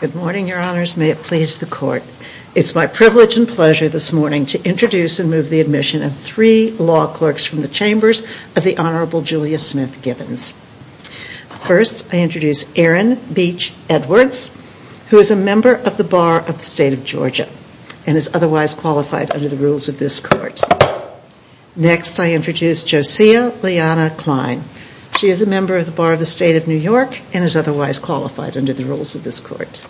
Good morning, Your Honors. May it please the Court. It's my privilege and pleasure this morning to introduce and move the admission of three law clerks from the Chambers of the Honorable Julia Smith Gibbons. First, I introduce Aaron Beach Edwards, who is a member of the Rules of this Court. Next, I introduce Josia Liana Klein. She is a member of the Bar of the State of New York and is otherwise qualified under the Rules of this Court.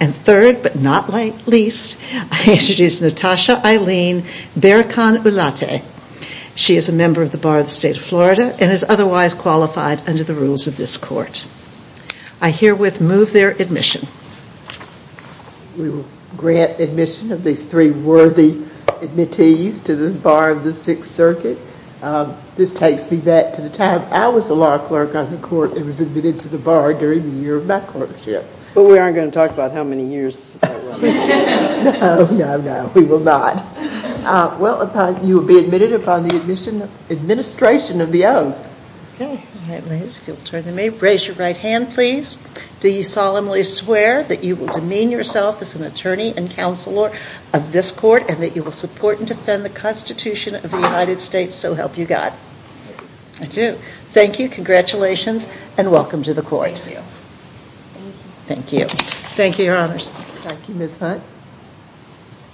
And third, but not least, I introduce Natasha Eileen Berrican-Ulate. She is a member of the Bar of the State of Florida and is otherwise qualified under the Rules of this Court. I herewith move their admission. We will grant admission of these three worthy admittees to the Bar of the Sixth Circuit. This takes me back to the time I was a law clerk on the Court that was admitted to the Bar during the year of my clerkship. But we aren't going to talk about how many years. No, no, no, we will not. Well, you will be admitted upon the administration of the oath. Raise your right hand, please. Do you solemnly swear that you will demean yourself as an attorney and counselor of this Court and that you will support and defend the Constitution of the United States, so help you God? I do. Thank you, congratulations, and welcome to the Court. Thank you. Thank you. Thank you, Your Honors. Thank you, Ms. Hunt.